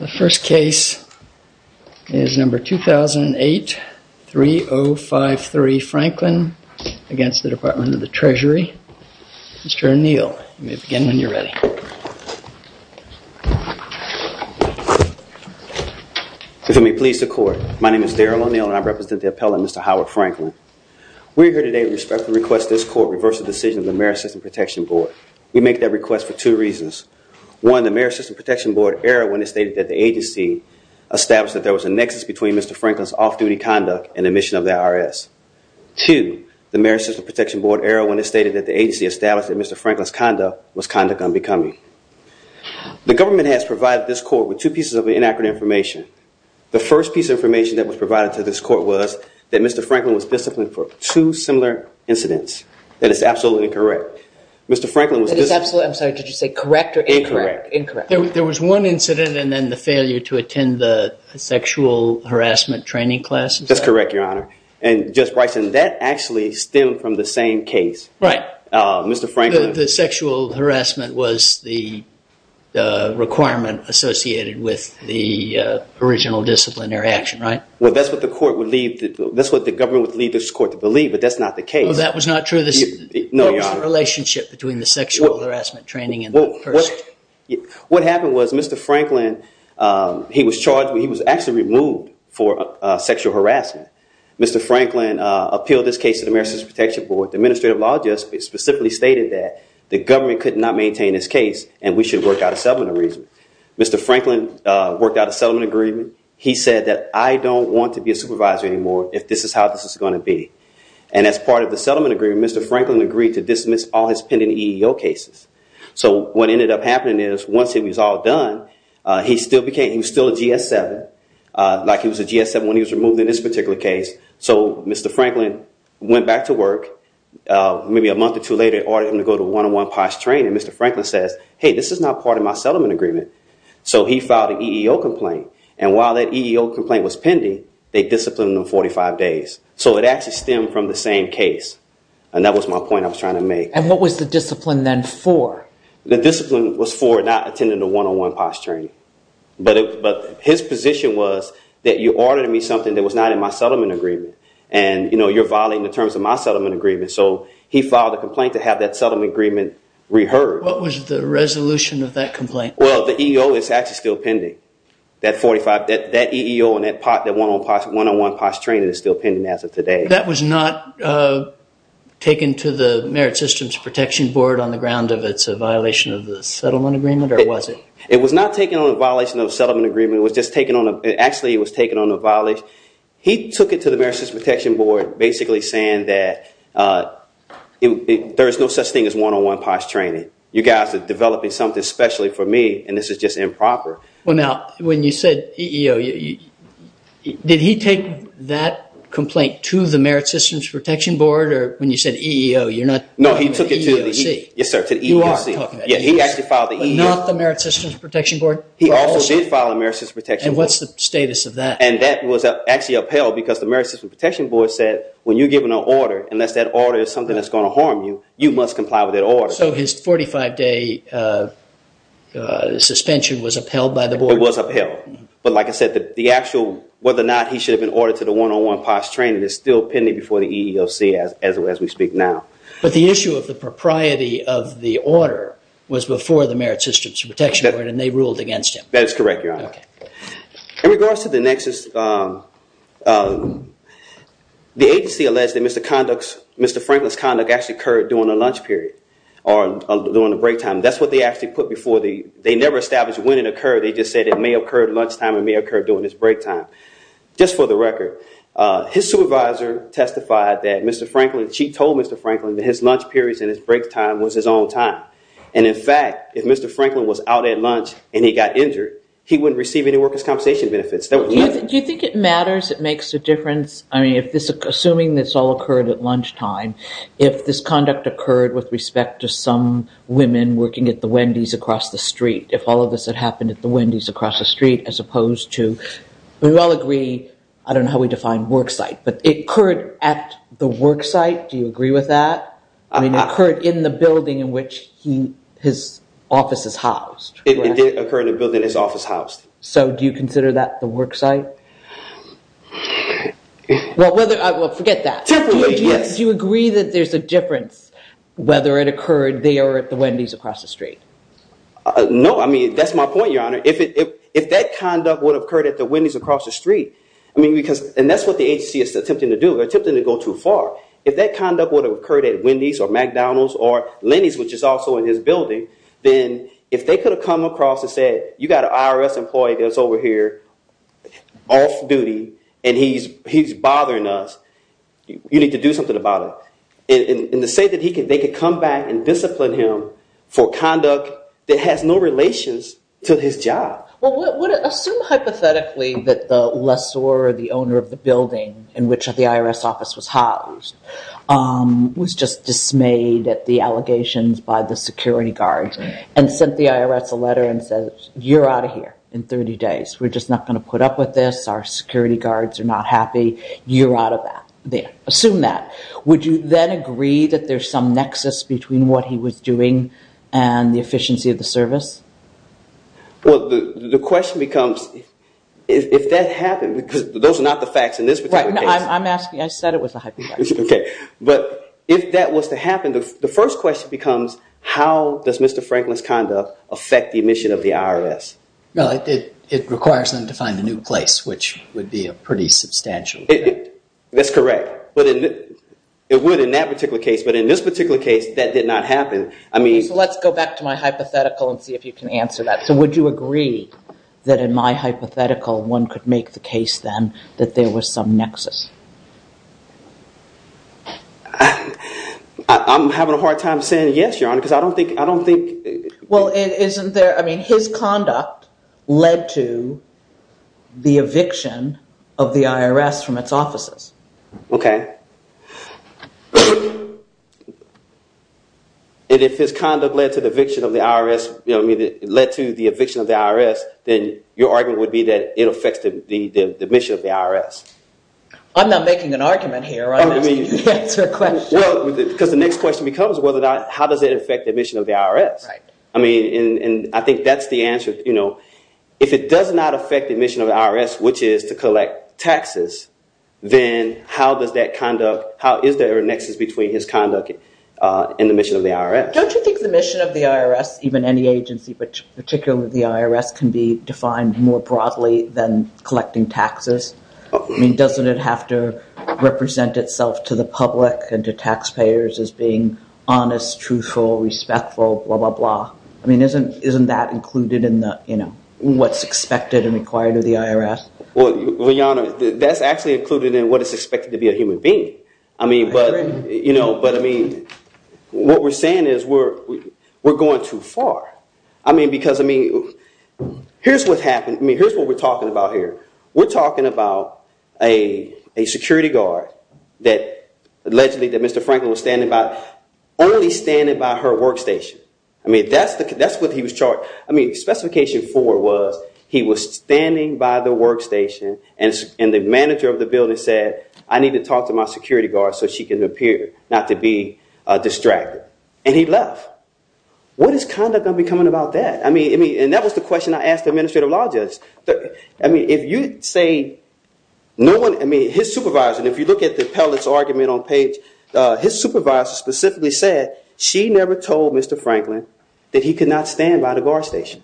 The first case is number 2008-3053, Franklin, against the Department of the Treasury. Mr. O'Neill, you may begin when you're ready. If you may please the court, my name is Daryl O'Neill and I represent the appellant, Mr. Howard Franklin. We're here today to respectfully request this court reverse the decision of the Marist System Protection Board. We make that request for two reasons. One, the Marist System Protection Board erred when it stated that the agency established that there was a nexus between Mr. Franklin's off-duty conduct and the mission of the IRS. Two, the Marist System Protection Board erred when it stated that the agency established that Mr. Franklin's conduct was conduct unbecoming. The government has provided this court with two pieces of inaccurate information. The first piece of information that was provided to this court was that Mr. Franklin was disciplined for two similar incidents. That is absolutely correct. Mr. Franklin was just- That is absolutely- I'm sorry, did you say correct or incorrect? Incorrect. There was one incident and then the failure to attend the sexual harassment training classes? That's correct, Your Honor. And Judge Bryson, that actually stemmed from the same case. Right. Mr. Franklin- The sexual harassment was the requirement associated with the original disciplinary action, right? Well, that's what the court would leave- that's what the government would leave this court to believe, but that's not the case. Well, that was not true? No, Your Honor. It was the relationship between the sexual harassment training and the person? Well, what happened was Mr. Franklin, he was charged- he was actually removed for sexual harassment. Mr. Franklin appealed this case to the Marist System Protection Board. The administrative law just specifically stated that the government could not maintain this case and we should work out a settlement agreement. Mr. Franklin worked out a settlement agreement. He said that I don't want to be a supervisor anymore if this is how this is going to be. And as part of the settlement agreement, Mr. Franklin agreed to dismiss all his pending EEO cases. So what ended up happening is once it was all done, he still became- he was still a GS-7, like he was a GS-7 when he was removed in this particular case. So Mr. Franklin went back to work, maybe a month or two later, ordered him to go to one-on-one POS training. Mr. Franklin says, hey, this is not part of my settlement agreement. So he filed an EEO complaint. And while that EEO complaint was pending, they disciplined him 45 days. So it actually stemmed from the same case. And that was my point I was trying to make. And what was the discipline then for? The discipline was for not attending the one-on-one POS training. But his position was that you ordered me something that was not in my settlement agreement. And, you know, you're violating the terms of my settlement agreement. So he filed a complaint to have that settlement agreement reheard. What was the resolution of that complaint? Well, the EEO is actually still pending. That EEO and that one-on-one POS training is still pending as of today. That was not taken to the Merit Systems Protection Board on the ground of it's a violation of the settlement agreement, or was it? It was not taken on the violation of the settlement agreement. It was just taken on a- actually, it was taken on a violation. He took it to the Merit Systems Protection Board basically saying that there is no such thing as one-on-one POS training. You guys are developing something specially for me, and this is just improper. Well, now, when you said EEO, did he take that complaint to the Merit Systems Protection Board? Or when you said EEO, you're not- No, he took it to the EEOC. Yes, sir, to the EEOC. You are talking- Yeah, he actually filed the EEOC. But not the Merit Systems Protection Board? He also did file a Merit Systems Protection Board. And what's the status of that? And that was actually upheld because the Merit Systems Protection Board said when you're given an order, unless that order is something that's going to harm you, you must comply with that order. So his 45-day suspension was upheld by the board? It was upheld. But like I said, the actual- whether or not he should have been ordered to the one-on-one POS training is still pending before the EEOC as we speak now. But the issue of the propriety of the order was before the Merit Systems Protection Board, and they ruled against him. That is correct, Your Honor. Okay. In regards to the nexus, the agency alleged that Mr. Franklin's conduct actually occurred during the lunch period or during the break time. That's what they actually put before the- they never established when it occurred. They just said it may have occurred lunchtime, it may have occurred during his break time. Just for the record, his supervisor testified that Mr. Franklin- she told Mr. Franklin that his lunch periods and his break time was his own time. And in fact, if Mr. Franklin was out at lunch and he got injured, he wouldn't receive any workers' compensation benefits. Do you think it matters? It makes a difference? I mean, assuming this all occurred at lunchtime, if this conduct occurred with respect to some women working at the Wendy's across the street, if all of this had happened at the Wendy's across the street as opposed to- we all agree, I don't know how we define worksite, but it occurred at the worksite. Do you agree with that? It occurred in the building in which his office is housed. It did occur in the building his office housed. So do you consider that the worksite? Well, forget that. Do you agree that there's a difference whether it occurred there or at the Wendy's across the street? No, I mean, that's my point, Your Honor. If that conduct would have occurred at the Wendy's across the street, I mean, because- and that's what the agency is attempting to do, they're attempting to go too far. If that conduct would have occurred at Wendy's or McDonald's or Lenny's, which is also in his building, then if they could have come across and said, you've got an IRS employee that's over here off duty and he's bothering us, you need to do something about it. And to say that they could come back and discipline him for conduct that has no relations to his job. Well, assume hypothetically that the lessor or the owner of the building in which the IRS office was housed was just dismayed at the allegations by the security guards and sent the IRS a letter and said, you're out of here in 30 days. We're just not going to put up with this. Our security guards are not happy. You're out of that. Assume that. Would you then agree that there's some nexus between what he was doing and the efficiency of the service? Well, the question becomes, if that happened, because those are not the facts in this particular case. I'm asking, I said it was a hypothetical. Okay. But if that was to happen, the first question becomes, how does Mr. Franklin's conduct affect the mission of the IRS? Well, it requires them to find a new place, which would be a pretty substantial. That's correct. It would in that particular case. But in this particular case, that did not happen. Okay, so let's go back to my hypothetical and see if you can answer that. So would you agree that in my hypothetical, one could make the case then that there was some nexus? I'm having a hard time saying yes, Your Honor, because I don't think- Well, isn't there, I mean, his conduct led to the eviction of the IRS from its offices. Okay. And if his conduct led to the eviction of the IRS, you know what I mean, led to the eviction of the IRS, then your argument would be that it affects the mission of the IRS. I'm not making an argument here. I'm asking you to answer a question. Well, because the next question becomes, how does it affect the mission of the IRS? Right. I mean, and I think that's the answer. If it does not affect the mission of the IRS, which is to collect taxes, then how is there a nexus between his conduct and the mission of the IRS? Don't you think the mission of the IRS, even any agency, but particularly the IRS, can be defined more broadly than collecting taxes? I mean, doesn't it have to represent itself to the public and to taxpayers as being honest, truthful, respectful, blah, blah, blah? I mean, isn't that included in what's expected and required of the IRS? Well, Liana, that's actually included in what is expected to be a human being. I agree. But, I mean, what we're saying is we're going too far. I mean, because, I mean, here's what happened. I mean, here's what we're talking about here. We're talking about a security guard that allegedly that Mr. Franklin was standing by, only standing by her workstation. I mean, that's what he was charged. I mean, specification four was he was standing by the workstation, and the manager of the building said, I need to talk to my security guard so she can appear, not to be distracted. And he left. What is conduct going to be coming about that? I mean, and that was the question I asked the administrative law judge. I mean, if you say no one, I mean, his supervisor, and if you look at the appellate's argument on page, his supervisor specifically said she never told Mr. Franklin that he could not stand by the guard station.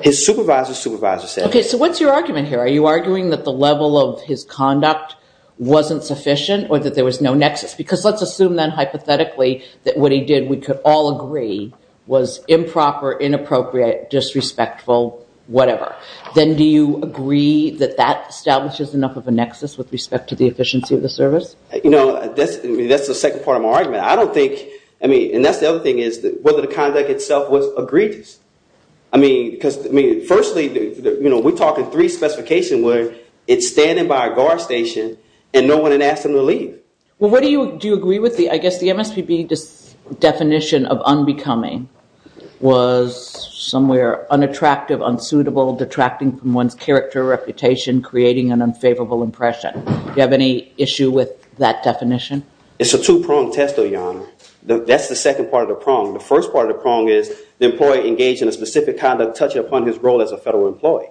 His supervisor's supervisor said. Okay, so what's your argument here? Are you arguing that the level of his conduct wasn't sufficient or that there was no nexus? Because let's assume then hypothetically that what he did, we could all agree, was improper, inappropriate, disrespectful, whatever. Then do you agree that that establishes enough of a nexus with respect to the efficiency of the service? You know, that's the second part of my argument. I don't think, I mean, and that's the other thing is whether the conduct itself was egregious. I mean, because, I mean, firstly, you know, we're talking three specifications where it's standing by a guard station and no one had asked him to leave. Well, what do you, do you agree with the, I guess the MSPB definition of unbecoming was somewhere unattractive, unsuitable, detracting from one's character, reputation, creating an unfavorable impression. Do you have any issue with that definition? It's a two-pronged test, Your Honor. That's the second part of the prong. The first part of the prong is the employee engaged in a specific kind of touching upon his role as a federal employee.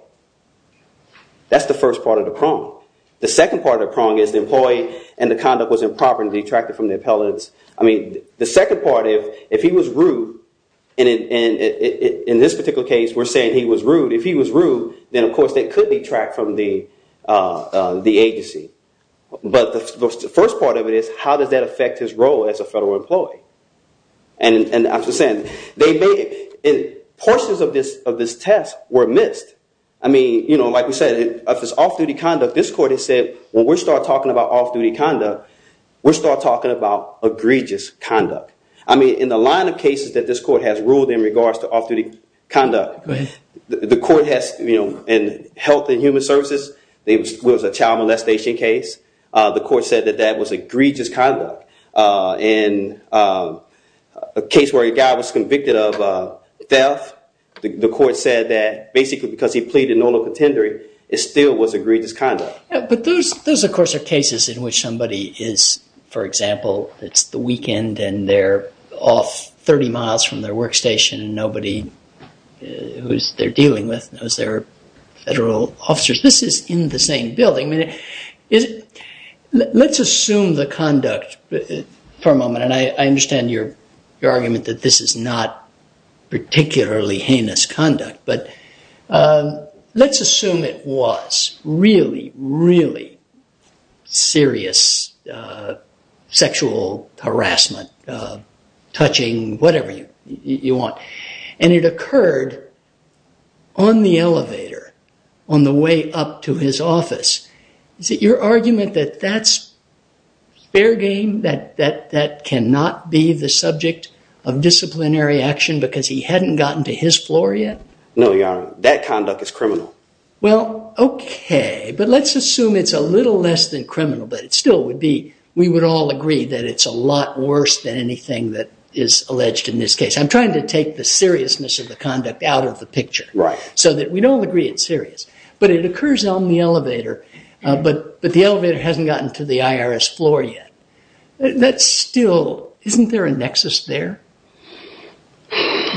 That's the first part of the prong. The second part of the prong is the employee and the conduct was improper and detracted from the appellants. I mean, the second part, if he was rude, and in this particular case we're saying he was rude, if he was rude, then, of course, that could detract from the agency. But the first part of it is how does that affect his role as a federal employee? And I'm just saying, they made, portions of this test were missed. I mean, you know, like we said, if it's off-duty conduct, this court has said, when we start talking about off-duty conduct, we start talking about egregious conduct. I mean, in the line of cases that this court has ruled in regards to off-duty conduct, the court has, you know, in Health and Human Services, there was a child molestation case. The court said that that was egregious conduct. In a case where a guy was convicted of theft, the court said that basically because he pleaded no to contendory, it still was egregious conduct. But those, of course, are cases in which somebody is, for example, it's the weekend and they're off 30 miles from their workstation and nobody who they're dealing with knows they're federal officers. This is in the same building. Let's assume the conduct for a moment, and I understand your argument that this is not particularly heinous conduct, but let's assume it was really, really serious sexual harassment, touching, whatever you want, and it occurred on the elevator on the way up to his office. Is it your argument that that's fair game, that that cannot be the subject of disciplinary action because he hadn't gotten to his floor yet? No, Your Honor, that conduct is criminal. Well, okay, but let's assume it's a little less than criminal, but it still would be, we would all agree that it's a lot worse than anything that is alleged in this case. I'm trying to take the seriousness of the conduct out of the picture so that we don't agree it's serious. But it occurs on the elevator, but the elevator hasn't gotten to the IRS floor yet. That's still, isn't there a nexus there?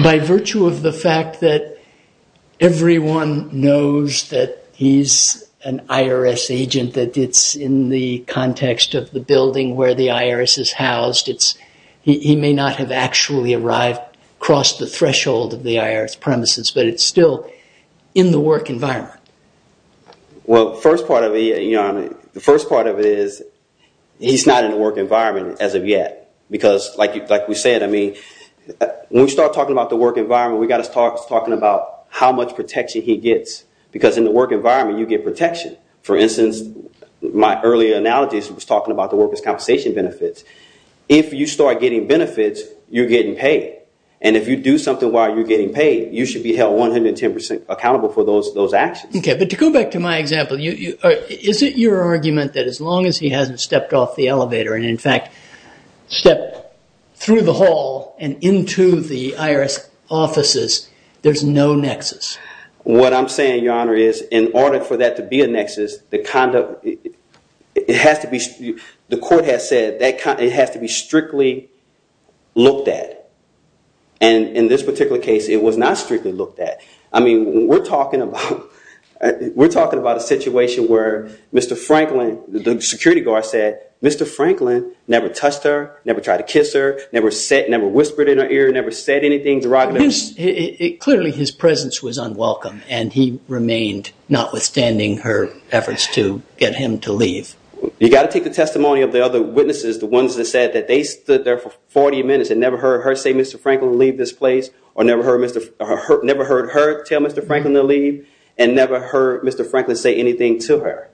By virtue of the fact that everyone knows that he's an IRS agent, that it's in the context of the building where the IRS is housed, he may not have actually arrived across the threshold of the IRS premises, but it's still in the work environment. Well, the first part of it is he's not in the work environment as of yet. Because like we said, when we start talking about the work environment, we've got to start talking about how much protection he gets. Because in the work environment, you get protection. For instance, my earlier analogy was talking about the workers' compensation benefits. If you start getting benefits, you're getting paid. And if you do something while you're getting paid, you should be held 110% accountable for those actions. Okay, but to go back to my example, is it your argument that as long as he hasn't stepped off the elevator and in fact stepped through the hall and into the IRS offices, there's no nexus? What I'm saying, Your Honor, is in order for that to be a nexus, the conduct, it has to be, the court has said it has to be strictly looked at. And in this particular case, it was not strictly looked at. I mean, we're talking about a situation where Mr. Franklin, the security guard said, Mr. Franklin never touched her, never tried to kiss her, never whispered in her ear, never said anything derogatory. Clearly his presence was unwelcome and he remained notwithstanding her efforts to get him to leave. You've got to take the testimony of the other witnesses, the ones that said that they stood there for 40 minutes and never heard her say, Mr. Franklin, leave this place or never heard her tell Mr. Franklin to leave and never heard Mr. Franklin say anything to her.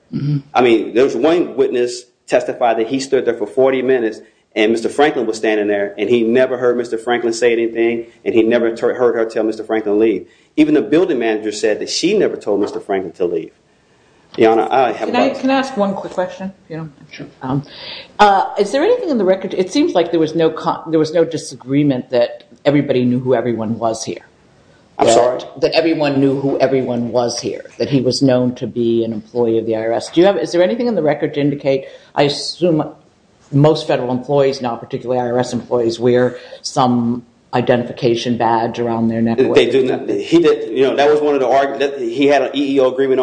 I mean, there was one witness testify that he stood there for 40 minutes and Mr. Franklin was standing there and he never heard Mr. Franklin say anything and he never heard her tell Mr. Franklin to leave. Even the building manager said that she never told Mr. Franklin to leave. Your Honor, I have a question. Can I ask one quick question? Sure. Is there anything in the record, it seems like there was no disagreement that everybody knew who everyone was here. I'm sorry? That everyone knew who everyone was here, that he was known to be an employee of the IRS. Do you have, is there anything in the record to indicate, I assume most federal employees, not particularly IRS employees, wear some identification badge around their neck? They do not. That was one of the arguments, he had an EEO agreement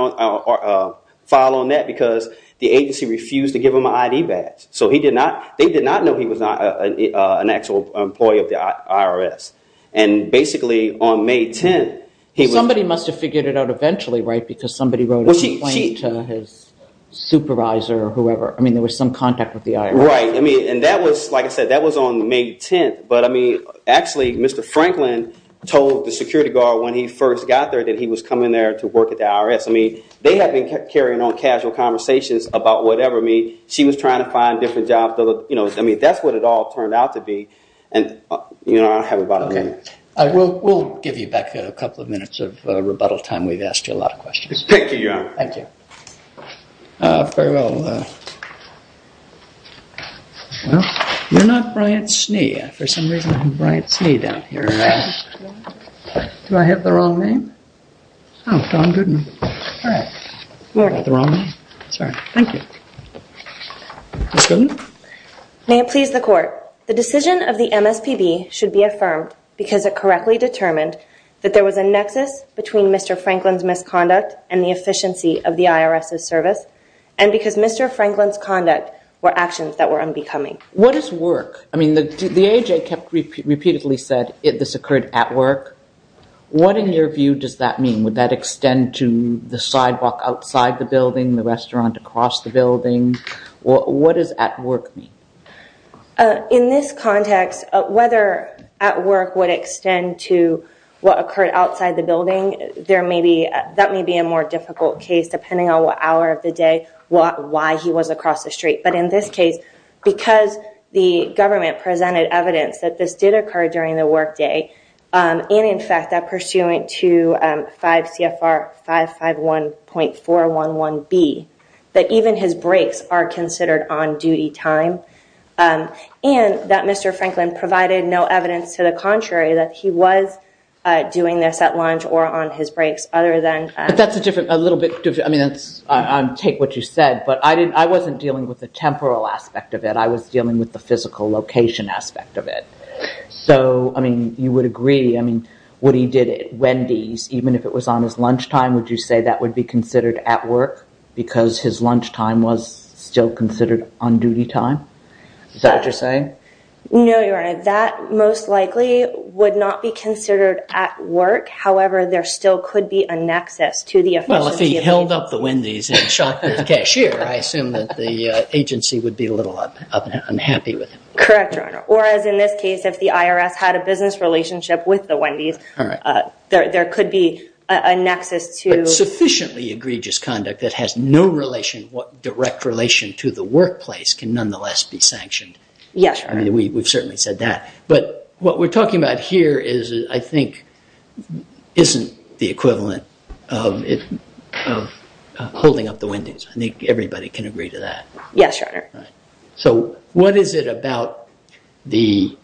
file on that because the agency refused to give him an ID badge. So he did not, they did not know he was an actual employee of the IRS. And basically on May 10th, he was... Somebody must have figured it out eventually, right, because somebody wrote a complaint to his supervisor or whoever. I mean, there was some contact with the IRS. Right, I mean, and that was, like I said, that was on May 10th, but I mean, actually Mr. Franklin told the security guard when he first got there that he was coming there to work at the IRS. I mean, they had been carrying on casual conversations about whatever, I mean, she was trying to find different jobs, you know, I mean, that's what it all turned out to be. And, you know, I don't have a bottom line. Okay. We'll give you back a couple of minutes of rebuttal time. We've asked you a lot of questions. Thank you, Your Honor. Thank you. Farewell. Well, you're not Bryant Snee. For some reason I'm Bryant Snee down here. Do I have the wrong name? Oh, John Goodman. All right. Morning. Is that the wrong name? Sorry. Thank you. Ms. Goodman? May it please the Court. The decision of the MSPB should be affirmed because it correctly determined that there was a nexus between Mr. Franklin's misconduct and the efficiency of the IRS's service, and because Mr. Franklin's conduct were actions that were unbecoming. What is work? I mean, the AHA kept repeatedly said this occurred at work. What, in your view, does that mean? Would that extend to the sidewalk outside the building, the restaurant across the building? What does at work mean? In this context, whether at work would extend to what occurred outside the building, that may be a more difficult case, depending on what hour of the day, why he was across the street. But in this case, because the government presented evidence that this did mean, in fact, that pursuant to 5 CFR 551.411B, that even his breaks are considered on-duty time, and that Mr. Franklin provided no evidence to the contrary, that he was doing this at lunch or on his breaks other than at work. But that's a little bit different. I mean, take what you said. But I wasn't dealing with the temporal aspect of it. I was dealing with the physical location aspect of it. So, I mean, you would agree. I mean, what he did at Wendy's, even if it was on his lunch time, would you say that would be considered at work because his lunch time was still considered on-duty time? Is that what you're saying? No, Your Honor. That most likely would not be considered at work. However, there still could be a nexus to the official CFPB. Well, if he held up the Wendy's and shot the cashier, I assume that the agency would be a little unhappy with him. Correct, Your Honor. Or, as in this case, if the IRS had a business relationship with the Wendy's, there could be a nexus to. But sufficiently egregious conduct that has no direct relation to the workplace can nonetheless be sanctioned. Yes, Your Honor. We've certainly said that. But what we're talking about here is, I think, isn't the equivalent of holding up the Wendy's. I think everybody can agree to that. Yes, Your Honor. So what is it about the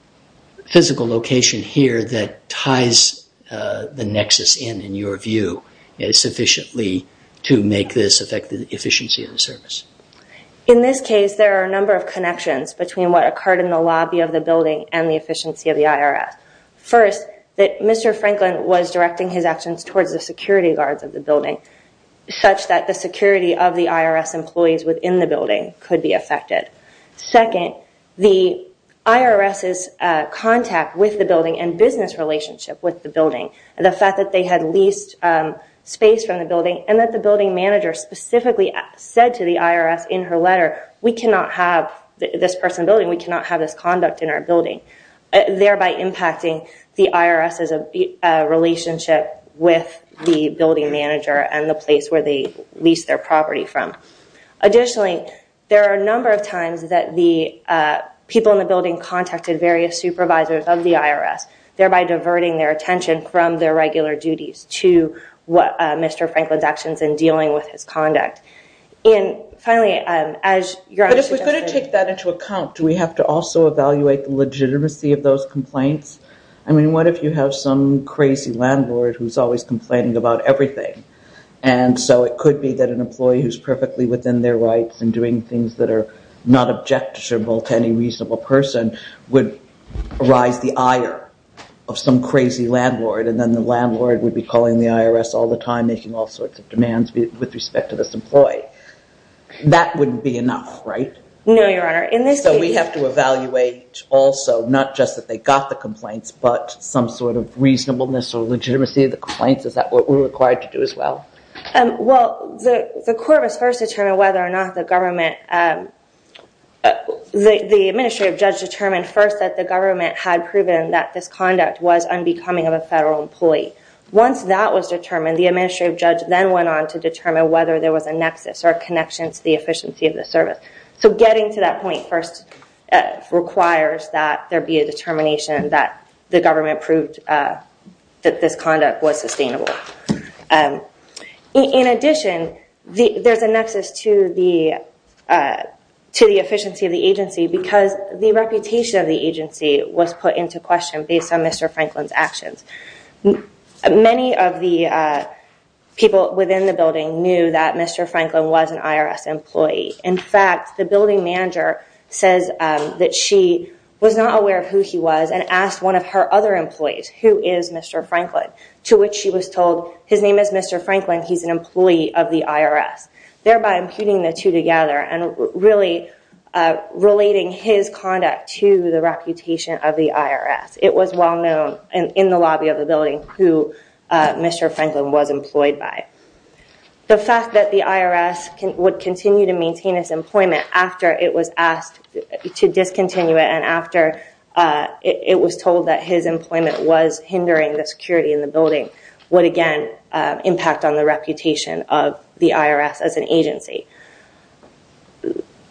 physical location here that ties the nexus in, in your view, sufficiently to make this affect the efficiency of the service? In this case, there are a number of connections between what occurred in the lobby of the building and the efficiency of the IRS. First, Mr. Franklin was directing his actions towards the security guards of the building such that the security of the IRS employees within the building could be affected. Second, the IRS's contact with the building and business relationship with the building, the fact that they had leased space from the building, and that the building manager specifically said to the IRS in her letter, we cannot have this person building, we cannot have this conduct in our building, thereby impacting the IRS's relationship with the building manager and the place where they leased their property from. Additionally, there are a number of times that the people in the building contacted various supervisors of the IRS, thereby diverting their attention from their regular duties to what Mr. Franklin's actions in dealing with his conduct. And finally, as Your Honor suggested. But if we're going to take that into account, do we have to also evaluate the legitimacy of those complaints? I mean, what if you have some crazy landlord who's always complaining about everything? And so it could be that an employee who's perfectly within their rights and doing things that are not objectionable to any reasonable person would arise the ire of some crazy landlord. And then the landlord would be calling the IRS all the time, making all sorts of demands with respect to this employee. That wouldn't be enough, right? No, Your Honor. So we have to evaluate also, not just that they got the complaints, but some sort of reasonableness or legitimacy of the complaints. Is that what we're required to do as well? Well, the court was first determined whether or not the government, the administrative judge determined first that the government had proven that this conduct was unbecoming of a federal employee. Once that was determined, the administrative judge then went on to determine whether there was a nexus or connection to the efficiency of the service. So getting to that point first requires that there be a determination that the agency was not responsible. In addition, there's a nexus to the efficiency of the agency because the reputation of the agency was put into question based on Mr. Franklin's actions. Many of the people within the building knew that Mr. Franklin was an IRS employee. In fact, the building manager says that she was not aware of who he was and asked one of her other employees, who is Mr. Franklin, to which she was told his name is Mr. Franklin. He's an employee of the IRS. Thereby imputing the two together and really relating his conduct to the reputation of the IRS. It was well known in the lobby of the building who Mr. Franklin was employed by. The fact that the IRS would continue to maintain its employment after it was asked to discontinue it and after it was told that his employment was hindering the security in the building would, again, impact on the reputation of the IRS as an agency.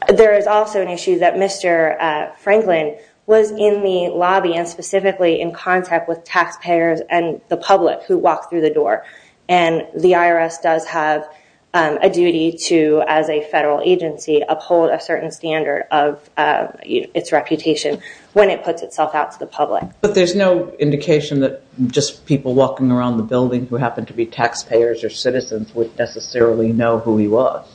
There is also an issue that Mr. Franklin was in the lobby and specifically in contact with taxpayers and the public who walked through the door. And the IRS does have a duty to, as a federal agency, uphold a certain standard of its reputation when it puts itself out to the public. But there's no indication that just people walking around the building who happen to be taxpayers or citizens would necessarily know who he was?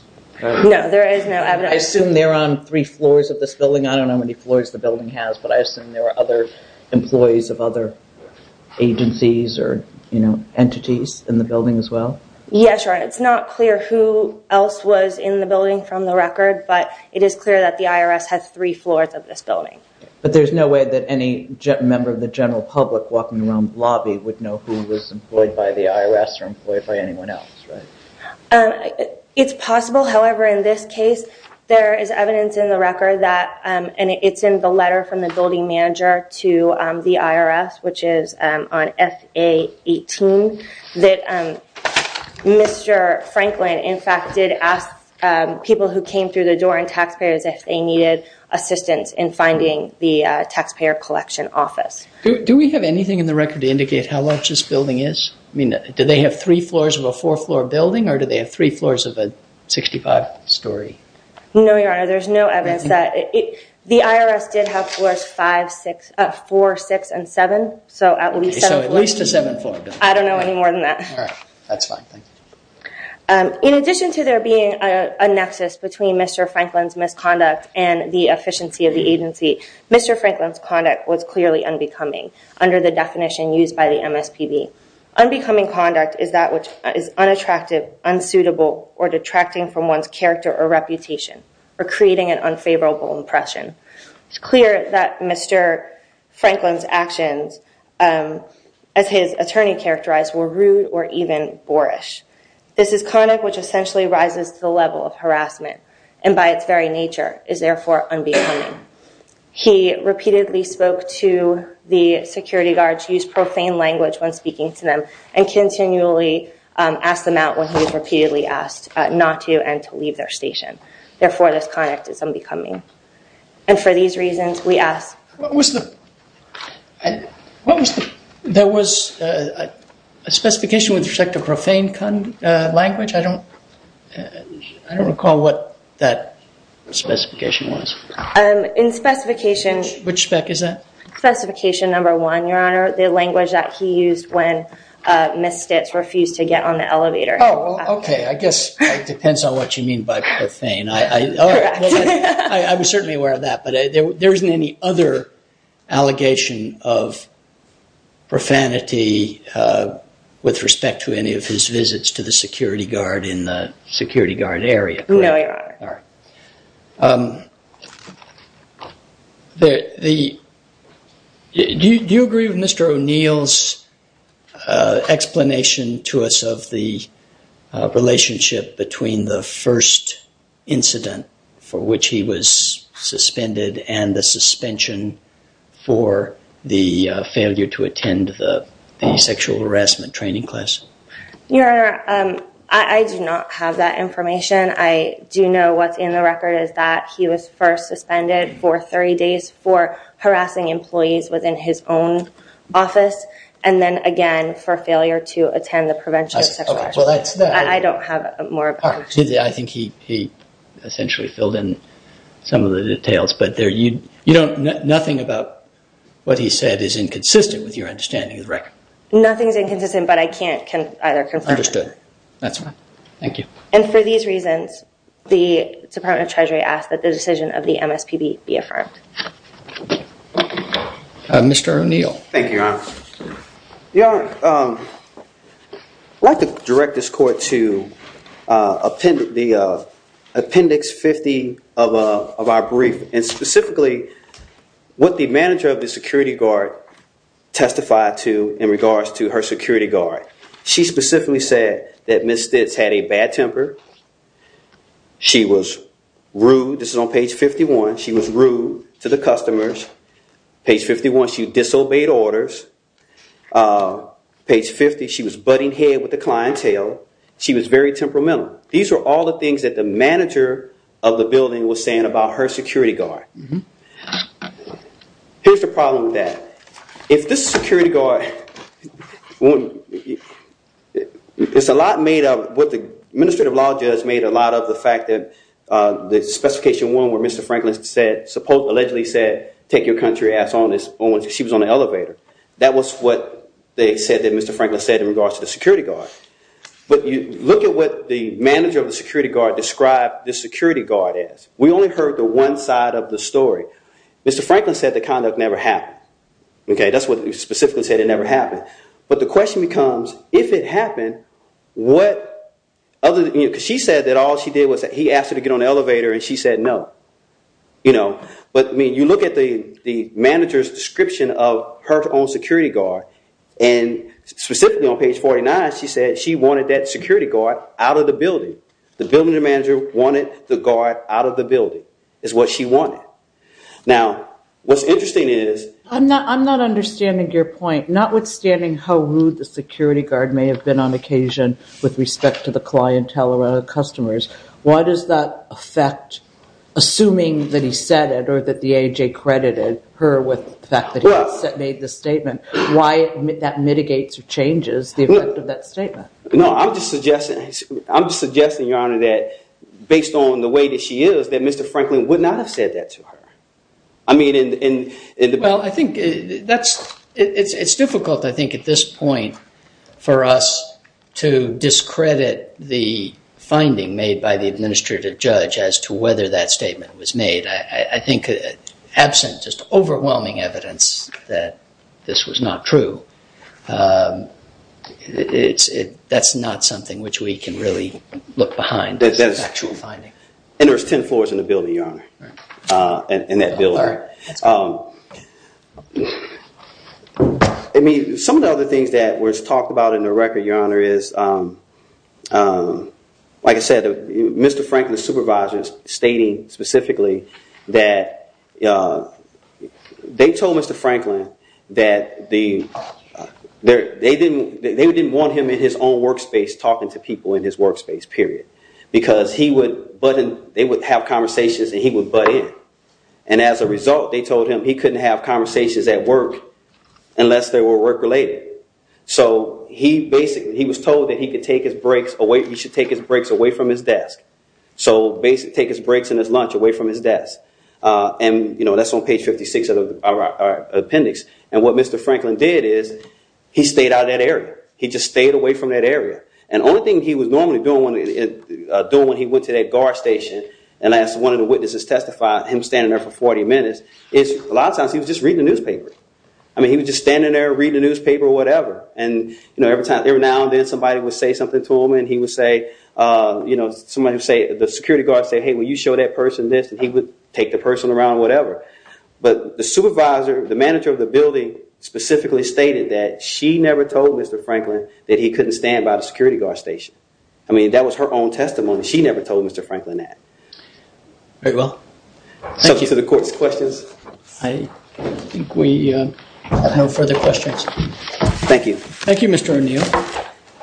No, there is no evidence. I assume they're on three floors of this building. I don't know how many floors the building has, but I assume there are other employees of other agencies or entities in the building as well? Yeah, sure. It's not clear who else was in the building from the record, but it is clear that the IRS has three floors of this building. But there's no way that any member of the general public walking around the lobby would know who was employed by the IRS or employed by anyone else, right? It's possible. However, in this case, there is evidence in the record that, and it's in the letter from the building manager to the IRS, which is on F-A-18, that Mr. Franklin, in fact, did ask people who came through the door and taxpayers if they needed assistance in finding the taxpayer collection office. Do we have anything in the record to indicate how large this building is? I mean, do they have three floors of a four floor building or do they have three floors of a 65 story? No, Your Honor, there's no evidence that it, the IRS did have floors five, six, four, six, and seven. So at least a seven floor building. I don't know any more than that. All right. That's fine. Thank you. In addition to there being a nexus between Mr. Franklin's misconduct and the efficiency of the agency, Mr. Franklin's conduct was clearly unbecoming under the definition used by the MSPB. Unbecoming conduct is that which is unattractive, unsuitable, or detracting from one's character or reputation or creating an unfavorable impression. It's clear that Mr. Franklin's actions, um, as his attorney characterized were rude or even boorish. This is conduct, which essentially rises to the level of harassment and by its very nature is therefore unbecoming. He repeatedly spoke to the security guards, use profane language when speaking to them and continually, um, ask them out when he was repeatedly asked not to and to leave their station. Therefore, this conduct is unbecoming. And for these reasons, we ask. What was the, what was the, there was a, a specification with respect to profane, uh, language. I don't, I don't recall what that specification was. Um, in specification, which spec is that? Specification number one, your honor, the language that he used when, uh, misfits refused to get on the elevator. Oh, okay. I guess it depends on what you mean by profane. I, I, I was certainly aware of that, but there, there isn't any other allegation of profanity, uh, with respect to any of his visits to the security guard in the security guard area. No, your honor. All right. Um, the, the, do you, do you agree with Mr. O'Neill's, uh, explanation to us of the, uh, incident for which he was suspended and the suspension for the, uh, failure to attend the, the sexual harassment training class? Your honor, um, I, I do not have that information. I do know what's in the record is that he was first suspended for 30 days for harassing employees within his own office. And then again, for failure to attend the prevention. I don't have more. I think he, he essentially filled in some of the details, but there you, you don't, nothing about what he said is inconsistent with your understanding of the record. Nothing's inconsistent, but I can't either confirm. Understood. That's fine. Thank you. And for these reasons, the department of treasury asked that the decision of the MSPB be affirmed. Mr. O'Neill. Thank you, your honor. Your honor, um, I'd like to direct this court to, uh, the appendix 50 of, uh, of our brief and specifically what the manager of the security guard testified to in regards to her security guard. She specifically said that misfits had a bad temper. She was rude. This is on page 51. She was rude to the customers page 51. She disobeyed orders, uh, page 50. She was butting head with the clientele. She was very temperamental. These are all the things that the manager of the building was saying about her security guard. Here's the problem with that. If this security guard, it's a lot made up with the administrative law judge made a lot of the fact that, uh, the specification one where Mr. Franklin said, supposedly said, take your country ass on this. She was on the elevator. That was what they said that Mr. Franklin said in regards to the security guard. But you look at what the manager of the security guard described the security guard is. We only heard the one side of the story. Mr. Franklin said the conduct never happened. Okay. That's what he specifically said. It never happened. But the question becomes, if it happened, what other, because she said that all she did was that he asked her to get on the elevator and she said, no, you know, but I mean, you look at the, the manager's description of her own security guard and specifically on she said that she wanted that security guard out of the building. The building manager wanted the guard out of the building is what she wanted. Now, what's interesting is, I'm not, I'm not understanding your point, not withstanding how rude the security guard may have been on occasion with respect to the clientele around the customers. Why does that affect, assuming that he said it or that the AJ credited her with the fact that he made the statement, why that mitigates or changes the effect of that statement? No, I'm just suggesting, I'm suggesting, Your Honor, that based on the way that she is, that Mr. Franklin would not have said that to her. I mean, and, and, well, I think that's, it's, it's difficult, I think at this point for us to discredit the finding made by the administrative judge as to whether that statement was made. I, I think absent just overwhelming evidence that this was not true, it's, it, that's not something which we can really look behind the actual finding. And there's 10 floors in the building, Your Honor, in that building. I mean, some of the other things that was talked about in the record, Your Honor, is, like I said, Mr. Franklin's supervisor is stating specifically, that, they told Mr. Franklin, that the, they didn't, they didn't want him in his own work space talking to people in his work space, period. Because he would, they would have conversations and he would butt in. And as a result, they told him he couldn't have conversations at work unless they were work related. So, he basically, he was told that he could take his breaks away, he should take his breaks away from his desk. So, basically take his breaks and his lunch away from his desk. And, you know, that's on page 56 of the appendix. And what Mr. Franklin did is, he stayed out of that area. He just stayed away from that area. And the only thing he was normally doing, doing when he went to that guard station, and as one of the witnesses testified, him standing there for 40 minutes, is a lot of times he was just reading the newspaper. I mean, he was just standing there reading the newspaper or whatever. And, you know, every now and then somebody would say something to him and he would say, you know, somebody would say, the security guard would say, hey, will you show that person this and he would take the person around or whatever. But the supervisor, the manager of the building specifically stated that she never told Mr. Franklin that he couldn't stand by the security guard station. I mean, that was her own testimony. She never told Mr. Franklin that. Very well. Thank you. So, to the court's questions. I think we have no further questions. Thank you. Thank you, Mr. O'Neill.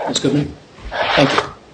That's good. Thank you.